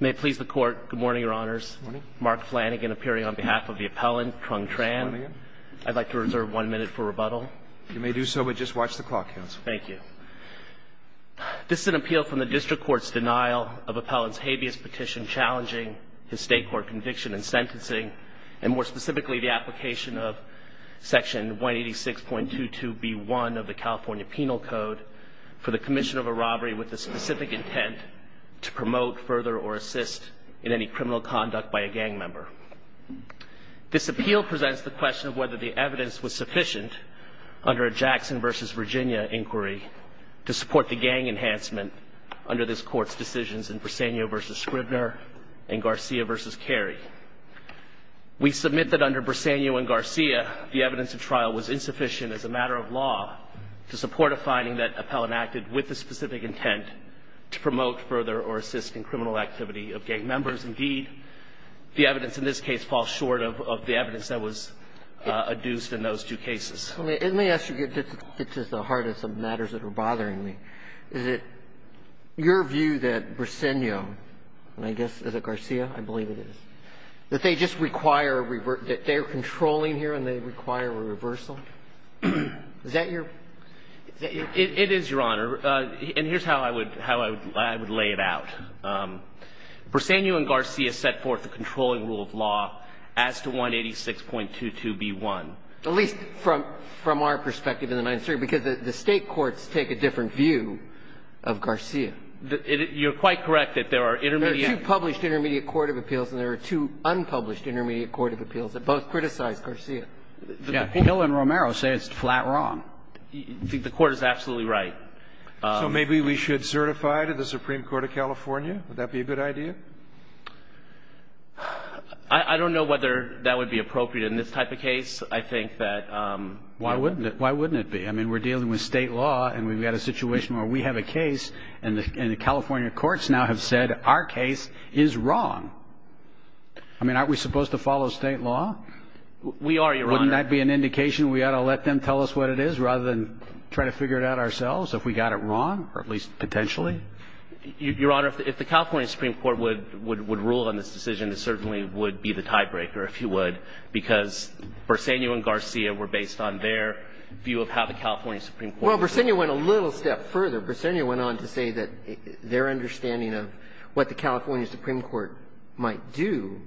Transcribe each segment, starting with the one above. Good morning, Your Honors. Mark Flanagan appearing on behalf of the appellant, Trung Tran. I'd like to reserve one minute for rebuttal. You may do so, but just watch the clock, Counsel. Thank you. This is an appeal from the District Court's denial of Appellant's habeas petition challenging his state court conviction and sentencing, and more specifically the application of Section 186.22b1 of the California Penal Code for the commission of a robbery with the specific intent to promote, further, or assist in any criminal conduct by a gang member. This appeal presents the question of whether the evidence was sufficient under a Jackson v. Virginia inquiry to support the gang enhancement under this Court's decisions in Briseño v. Scribner and Garcia v. Carey. We submit that under Briseño and Garcia, the evidence of trial was insufficient as a matter of law to support a finding that appellant acted with the specific intent to promote, further, or assist in criminal activity of gang members. Indeed, the evidence in this case falls short of the evidence that was adduced in those two cases. Let me ask you. This is the heart of some matters that are bothering me. Is it your view that Briseño, and I guess is it Garcia? I believe it is. That they just require a reverse – that they're controlling here and they require a reversal? Is that your – It is, Your Honor. And here's how I would lay it out. Briseño and Garcia set forth the controlling rule of law as to 186.22b1. At least from our perspective in the Ninth Circuit, because the State courts take a different view of Garcia. You're quite correct that there are intermediate – There are two published intermediate court of appeals and there are two unpublished intermediate court of appeals that both criticize Garcia. Yeah. Hill and Romero say it's flat wrong. The Court is absolutely right. So maybe we should certify to the Supreme Court of California? Would that be a good idea? I don't know whether that would be appropriate in this type of case. I think that – Why wouldn't it? Why wouldn't it be? I mean, we're dealing with State law and we've got a situation where we have a case and the California courts now have said our case is wrong. I mean, aren't we supposed to follow State law? We are, Your Honor. Wouldn't that be an indication we ought to let them tell us what it is rather than try to figure it out ourselves if we got it wrong, or at least potentially? Your Honor, if the California Supreme Court would rule on this decision, it certainly would be the tiebreaker, if you would, because Briseño and Garcia were based on their view of how the California Supreme Court was doing. Well, Briseño went a little step further. Briseño went on to say that their understanding of what the California Supreme Court might do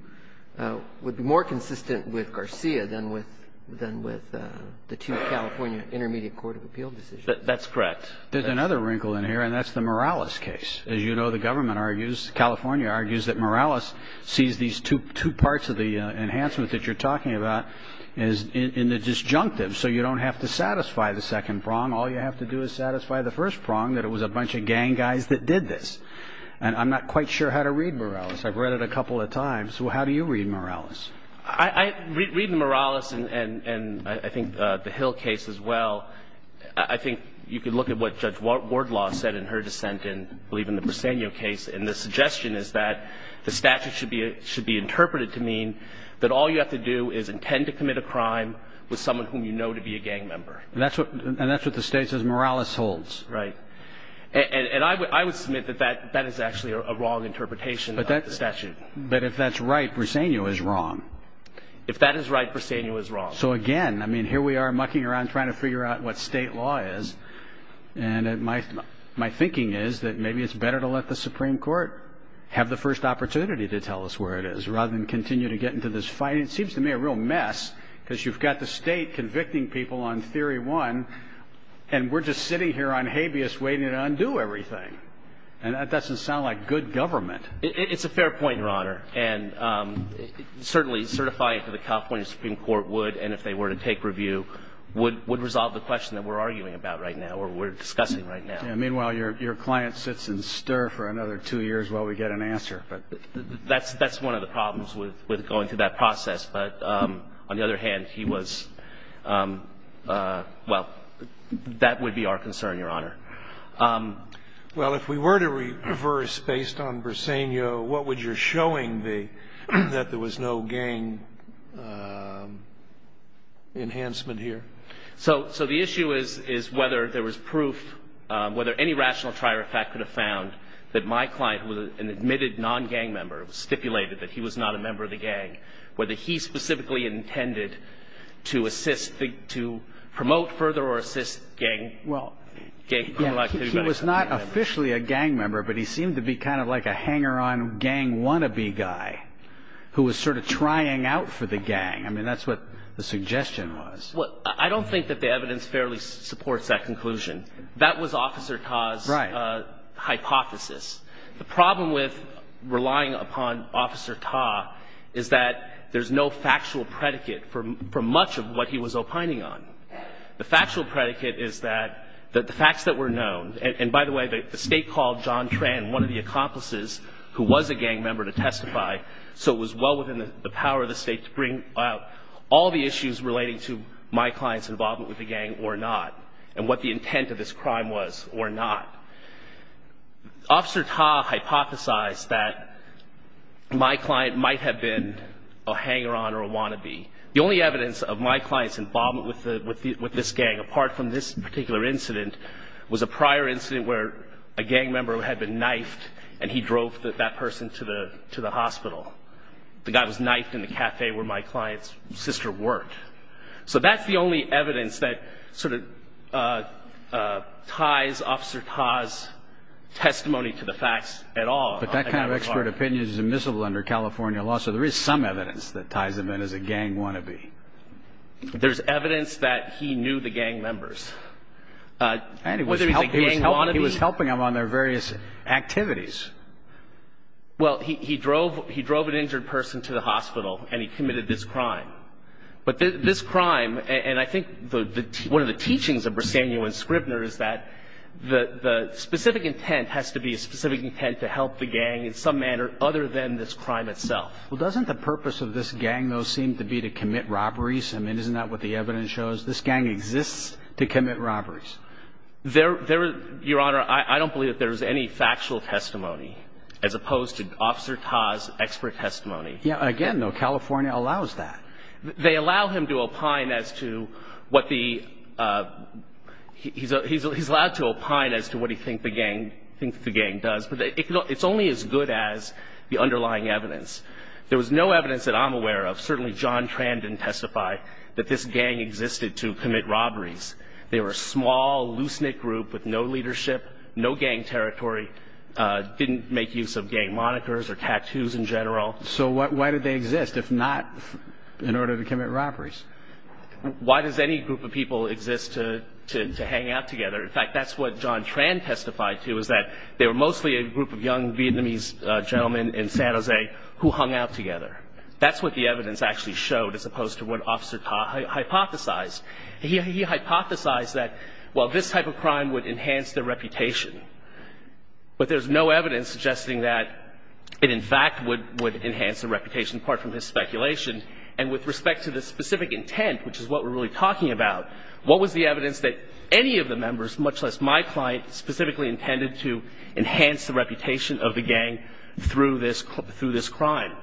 would be more consistent with Garcia than with the two California intermediate court of appeal decisions. That's correct. There's another wrinkle in here, and that's the Morales case. As you know, the government argues, California argues, that Morales sees these two parts of the enhancement that you're talking about in the disjunctive. So you don't have to satisfy the second prong. All you have to do is satisfy the first prong, that it was a bunch of gang guys that did this. And I'm not quite sure how to read Morales. I've read it a couple of times. How do you read Morales? I read Morales, and I think the Hill case as well. I think you could look at what Judge Wardlaw said in her dissent in, I believe, in the Briseño case, and the suggestion is that the statute should be interpreted to mean that all you have to do is intend to commit a crime with someone whom you know to be a gang member. And that's what the State says Morales holds. Right. And I would submit that that is actually a wrong interpretation of the statute. But if that's right, Briseño is wrong. If that is right, Briseño is wrong. So again, I mean, here we are mucking around trying to figure out what State law is. And my thinking is that maybe it's better to let the Supreme Court have the first opportunity to tell us where it is, rather than continue to get into this fight. It seems to me a real mess, because you've got the State convicting people on Theory 1, and we're just sitting here on habeas waiting to undo everything. And that doesn't sound like good government. It's a fair point, Your Honor, and certainly certifying it to the California Supreme Court would, and if they were to take review, would resolve the question that we're arguing about right now, or we're discussing right now. Meanwhile, your client sits and stirs for another two years while we get an answer. That's one of the problems with going through that process. But on the other hand, he was, well, that would be our concern, Your Honor. Well, if we were to reverse based on Briseño, what would your showing be that there was no gang enhancement here? So the issue is whether there was proof, whether any rational trier of fact could have found that my client, who was an admitted non-gang member, stipulated that he was not a member of the gang, whether he specifically intended to assist, to promote further or assist gang criminal activity. He was not officially a gang member, but he seemed to be kind of like a hanger-on gang wannabe guy who was sort of trying out for the gang. I mean, that's what the suggestion was. Well, I don't think that the evidence fairly supports that conclusion. That was Officer Ta's hypothesis. The problem with relying upon Officer Ta is that there's no factual predicate for much of what he was opining on. The factual predicate is that the facts that were known, and by the way, the State called John Tran, one of the accomplices who was a gang member, to testify, so it was well within the power of the State to bring out all the issues relating to my client's involvement with the gang or not and what the intent of this crime was or not. Officer Ta hypothesized that my client might have been a hanger-on or a wannabe. The only evidence of my client's involvement with this gang, apart from this particular incident, was a prior incident where a gang member had been knifed and he drove that person to the hospital. The guy was knifed in the cafe where my client's sister worked. So that's the only evidence that sort of ties Officer Ta's testimony to the facts at all. But that kind of expert opinion is immiscible under California law, so there is some evidence that ties him in as a gang wannabe. There's evidence that he knew the gang members. And he was helping them on their various activities. Well, he drove an injured person to the hospital and he committed this crime. But this crime, and I think one of the teachings of Briseno and Scribner is that the specific intent has to be a specific intent to help the gang in some manner other than this crime itself. Well, doesn't the purpose of this gang, though, seem to be to commit robberies? I mean, isn't that what the evidence shows? This gang exists to commit robberies. Your Honor, I don't believe that there is any factual testimony as opposed to Officer Ta's expert testimony. Again, though, California allows that. They allow him to opine as to what he thinks the gang does. But it's only as good as the underlying evidence. There was no evidence that I'm aware of, certainly John Tran didn't testify, that this gang existed to commit robberies. They were a small, loose-knit group with no leadership, no gang territory, didn't make use of gang monikers or tattoos in general. So why did they exist, if not in order to commit robberies? Why does any group of people exist to hang out together? In fact, that's what John Tran testified to, is that they were mostly a group of young Vietnamese gentlemen in San Jose who hung out together. That's what the evidence actually showed as opposed to what Officer Ta hypothesized. He hypothesized that, well, this type of crime would enhance their reputation. But there's no evidence suggesting that it, in fact, would enhance their reputation, apart from his speculation. And with respect to the specific intent, which is what we're really talking about, what was the evidence that any of the members, much less my client, specifically intended to enhance the reputation of the gang through this crime?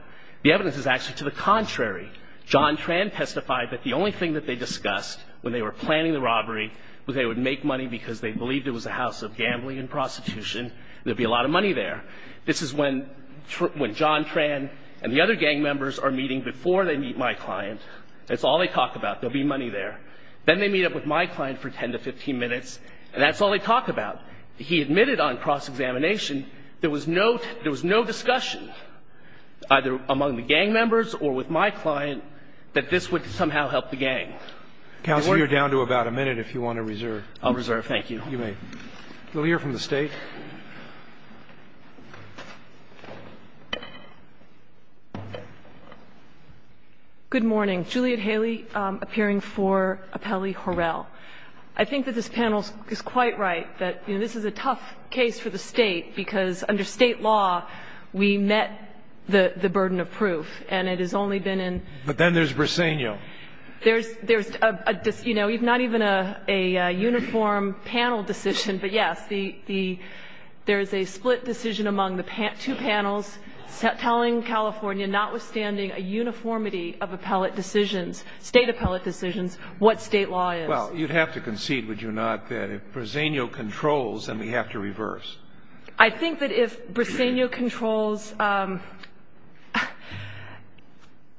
The evidence is actually to the contrary. John Tran testified that the only thing that they discussed when they were planning the robbery was they would make money because they believed it was a house of gambling and prostitution, there'd be a lot of money there. This is when John Tran and the other gang members are meeting before they meet my client. That's all they talk about, there'll be money there. Then they meet up with my client for 10 to 15 minutes, and that's all they talk about. He admitted on cross-examination there was no discussion, either among the gang members or with my client, that this would somehow help the gang. Counsel, you're down to about a minute if you want to reserve. I'll reserve. Thank you. You may. We'll hear from the State. Good morning. Juliet Haley, appearing for Appellee Horrell. I think that this panel is quite right, that this is a tough case for the State, because under State law, we met the burden of proof, and it has only been in. But then there's Briseno. There's not even a uniform panel decision, but, yes, there is a split decision among the two panels telling California, notwithstanding a uniformity of State appellate decisions, what State law is. Well, you'd have to concede, would you not, that if Briseno controls, then we have to reverse. I think that if Briseno controls,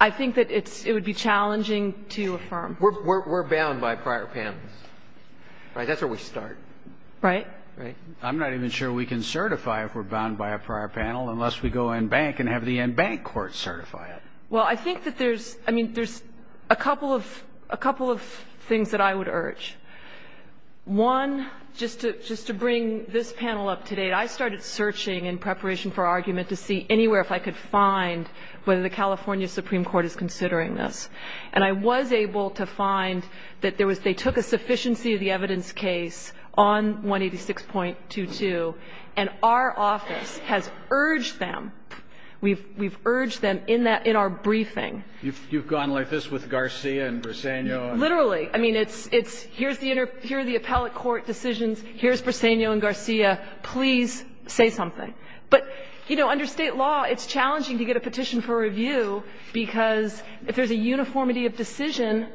I think that it would be challenging to affirm. We're bound by prior panels. Right? That's where we start. Right? Right. I'm not even sure we can certify if we're bound by a prior panel unless we go in bank and have the in-bank court certify it. Well, I think that there's, I mean, there's a couple of things that I would urge. One, just to bring this panel up to date, I started searching in preparation for argument to see anywhere if I could find whether the California Supreme Court is considering this. And I was able to find that there was, they took a sufficiency of the evidence case on 186.22, and our office has urged them. We've urged them in our briefing. You've gone like this with Garcia and Briseno. Literally. I mean, it's here's the appellate court decisions, here's Briseno and Garcia, please say something. But, you know, under state law, it's challenging to get a petition for review because if there's a uniformity of decision,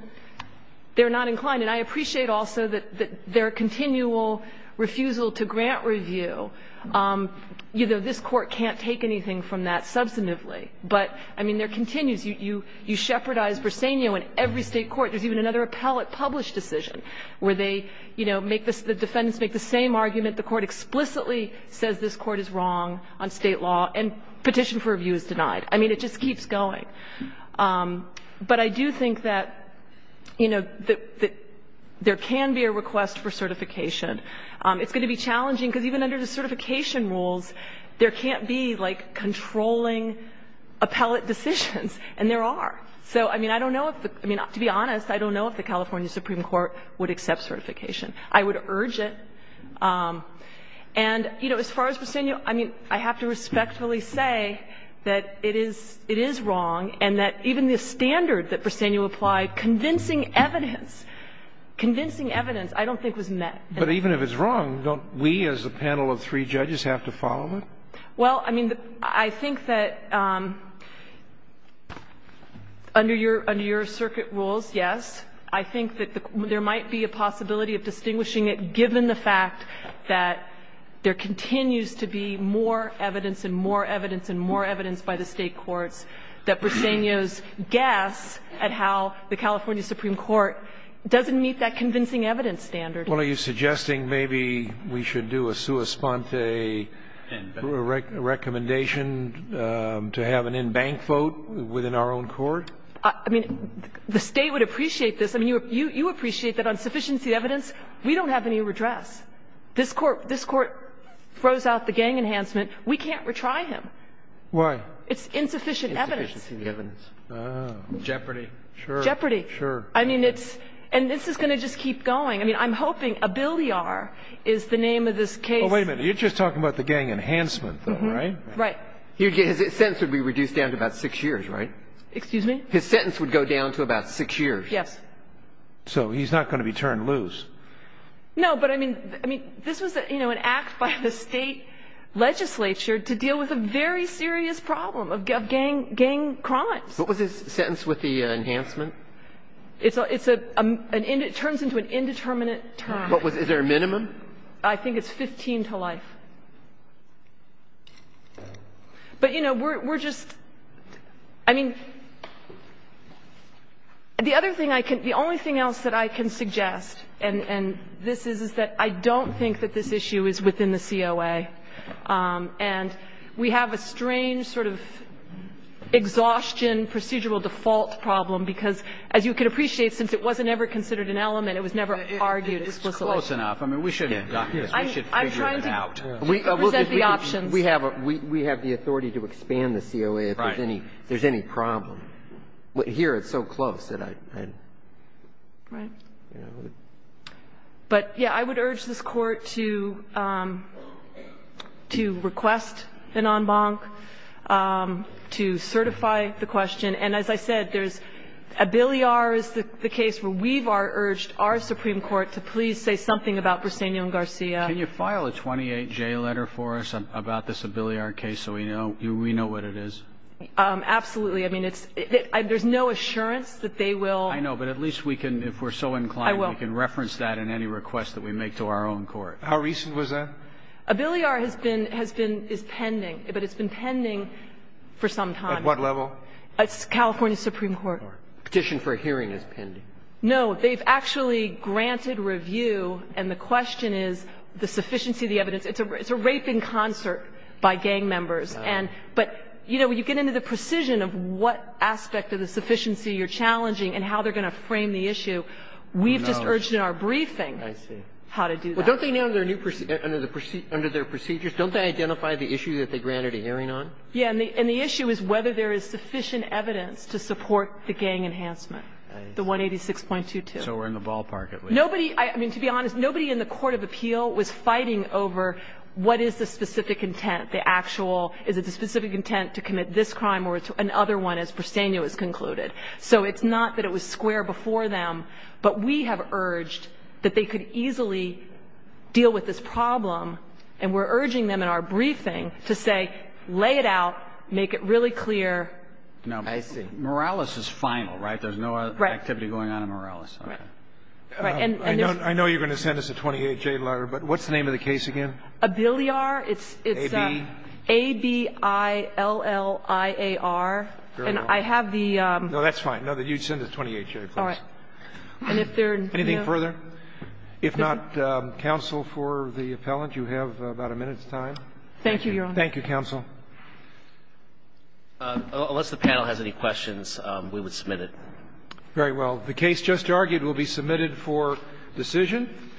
they're not inclined. And I appreciate also that their continual refusal to grant review, you know, this court can't take anything from that substantively. But, I mean, there continues. You shepherdize Briseno in every state court. There's even another appellate published decision where they, you know, the defendants make the same argument. The court explicitly says this court is wrong on state law and petition for review is denied. I mean, it just keeps going. But I do think that, you know, there can be a request for certification. It's going to be challenging because even under the certification rules, there can't be, like, controlling appellate decisions. And there are. So, I mean, I don't know if the – I mean, to be honest, I don't know if the California Supreme Court would accept certification. I would urge it. And, you know, as far as Briseno, I mean, I have to respectfully say that it is wrong and that even the standard that Briseno applied, convincing evidence, convincing evidence, I don't think was met. But even if it's wrong, don't we as a panel of three judges have to follow it? Well, I mean, I think that under your – under your circuit rules, yes, I think that there might be a possibility of distinguishing it given the fact that there continues to be more evidence and more evidence and more evidence by the State courts that Briseno's guess at how the California Supreme Court doesn't meet that convincing evidence standard. Well, are you suggesting maybe we should do a sua sponte recommendation to have an in-bank vote within our own court? I mean, the State would appreciate this. I mean, you appreciate that on sufficiency of evidence, we don't have any redress. This Court – this Court throws out the gang enhancement. We can't retry him. Why? It's insufficient evidence. Insufficient evidence. Jeopardy. Sure. Jeopardy. Sure. I mean, it's – and this is going to just keep going. I mean, I'm hoping Abiliar is the name of this case. Oh, wait a minute. You're just talking about the gang enhancement, though, right? Right. His sentence would be reduced down to about six years, right? Excuse me? His sentence would go down to about six years. Yes. So he's not going to be turned loose. No, but I mean – I mean, this was, you know, an act by the State legislature to deal with a very serious problem of gang crimes. What was his sentence with the enhancement? It's a – it's a – it turns into an indeterminate term. What was – is there a minimum? I think it's 15 to life. But, you know, we're just – I mean, the other thing I can – the only thing else that I can suggest, and this is, is that I don't think that this issue is within the COA. And we have a strange sort of exhaustion procedural default problem because, as you can appreciate, since it wasn't ever considered an element, it was never argued explicitly. It's close enough. I mean, we should figure it out. I'm trying to present the options. We have the authority to expand the COA if there's any problem. Right. But here it's so close that I – Right. But, yeah, I would urge this Court to request an en banc to certify the question. And as I said, there's – Abiliar is the case where we've urged our Supreme Court to please say something about Briseño and Garcia. Can you file a 28-J letter for us about this Abiliar case so we know what it is? Absolutely. I mean, it's – there's no assurance that they will – I know, but at least we can – if we're so inclined, we can reference that in any request that we make to our own court. How recent was that? Abiliar has been – is pending, but it's been pending for some time. At what level? California Supreme Court. Petition for a hearing is pending. No, they've actually granted review, and the question is the sufficiency of the evidence. It's a raping concert by gang members. But, you know, when you get into the precision of what aspect of the sufficiency you're challenging and how they're going to frame the issue, we've just urged in our briefing how to do that. Well, don't they now, under their procedures, don't they identify the issue that they granted a hearing on? Yeah. And the issue is whether there is sufficient evidence to support the gang enhancement, the 186.22. So we're in the ballpark at least. Nobody – I mean, to be honest, nobody in the court of appeal was fighting over what is the specific intent, the actual – is it the specific intent to commit this crime or another one, as Briseno has concluded. So it's not that it was square before them, but we have urged that they could easily deal with this problem, and we're urging them in our briefing to say, lay it out, make it really clear. I see. Now, Morales is final, right? There's no activity going on in Morales. Right. I know you're going to send us a 28-J letter, but what's the name of the case again? It's – A-B-I-L-L-I-A-R. Very well. And I have the – No, that's fine. No, you'd send a 28-J, please. All right. And if there – Anything further? If not, counsel, for the appellant, you have about a minute's time. Thank you, Your Honor. Thank you, counsel. Unless the panel has any questions, we would submit it. Very well. The case just argued will be submitted for decision.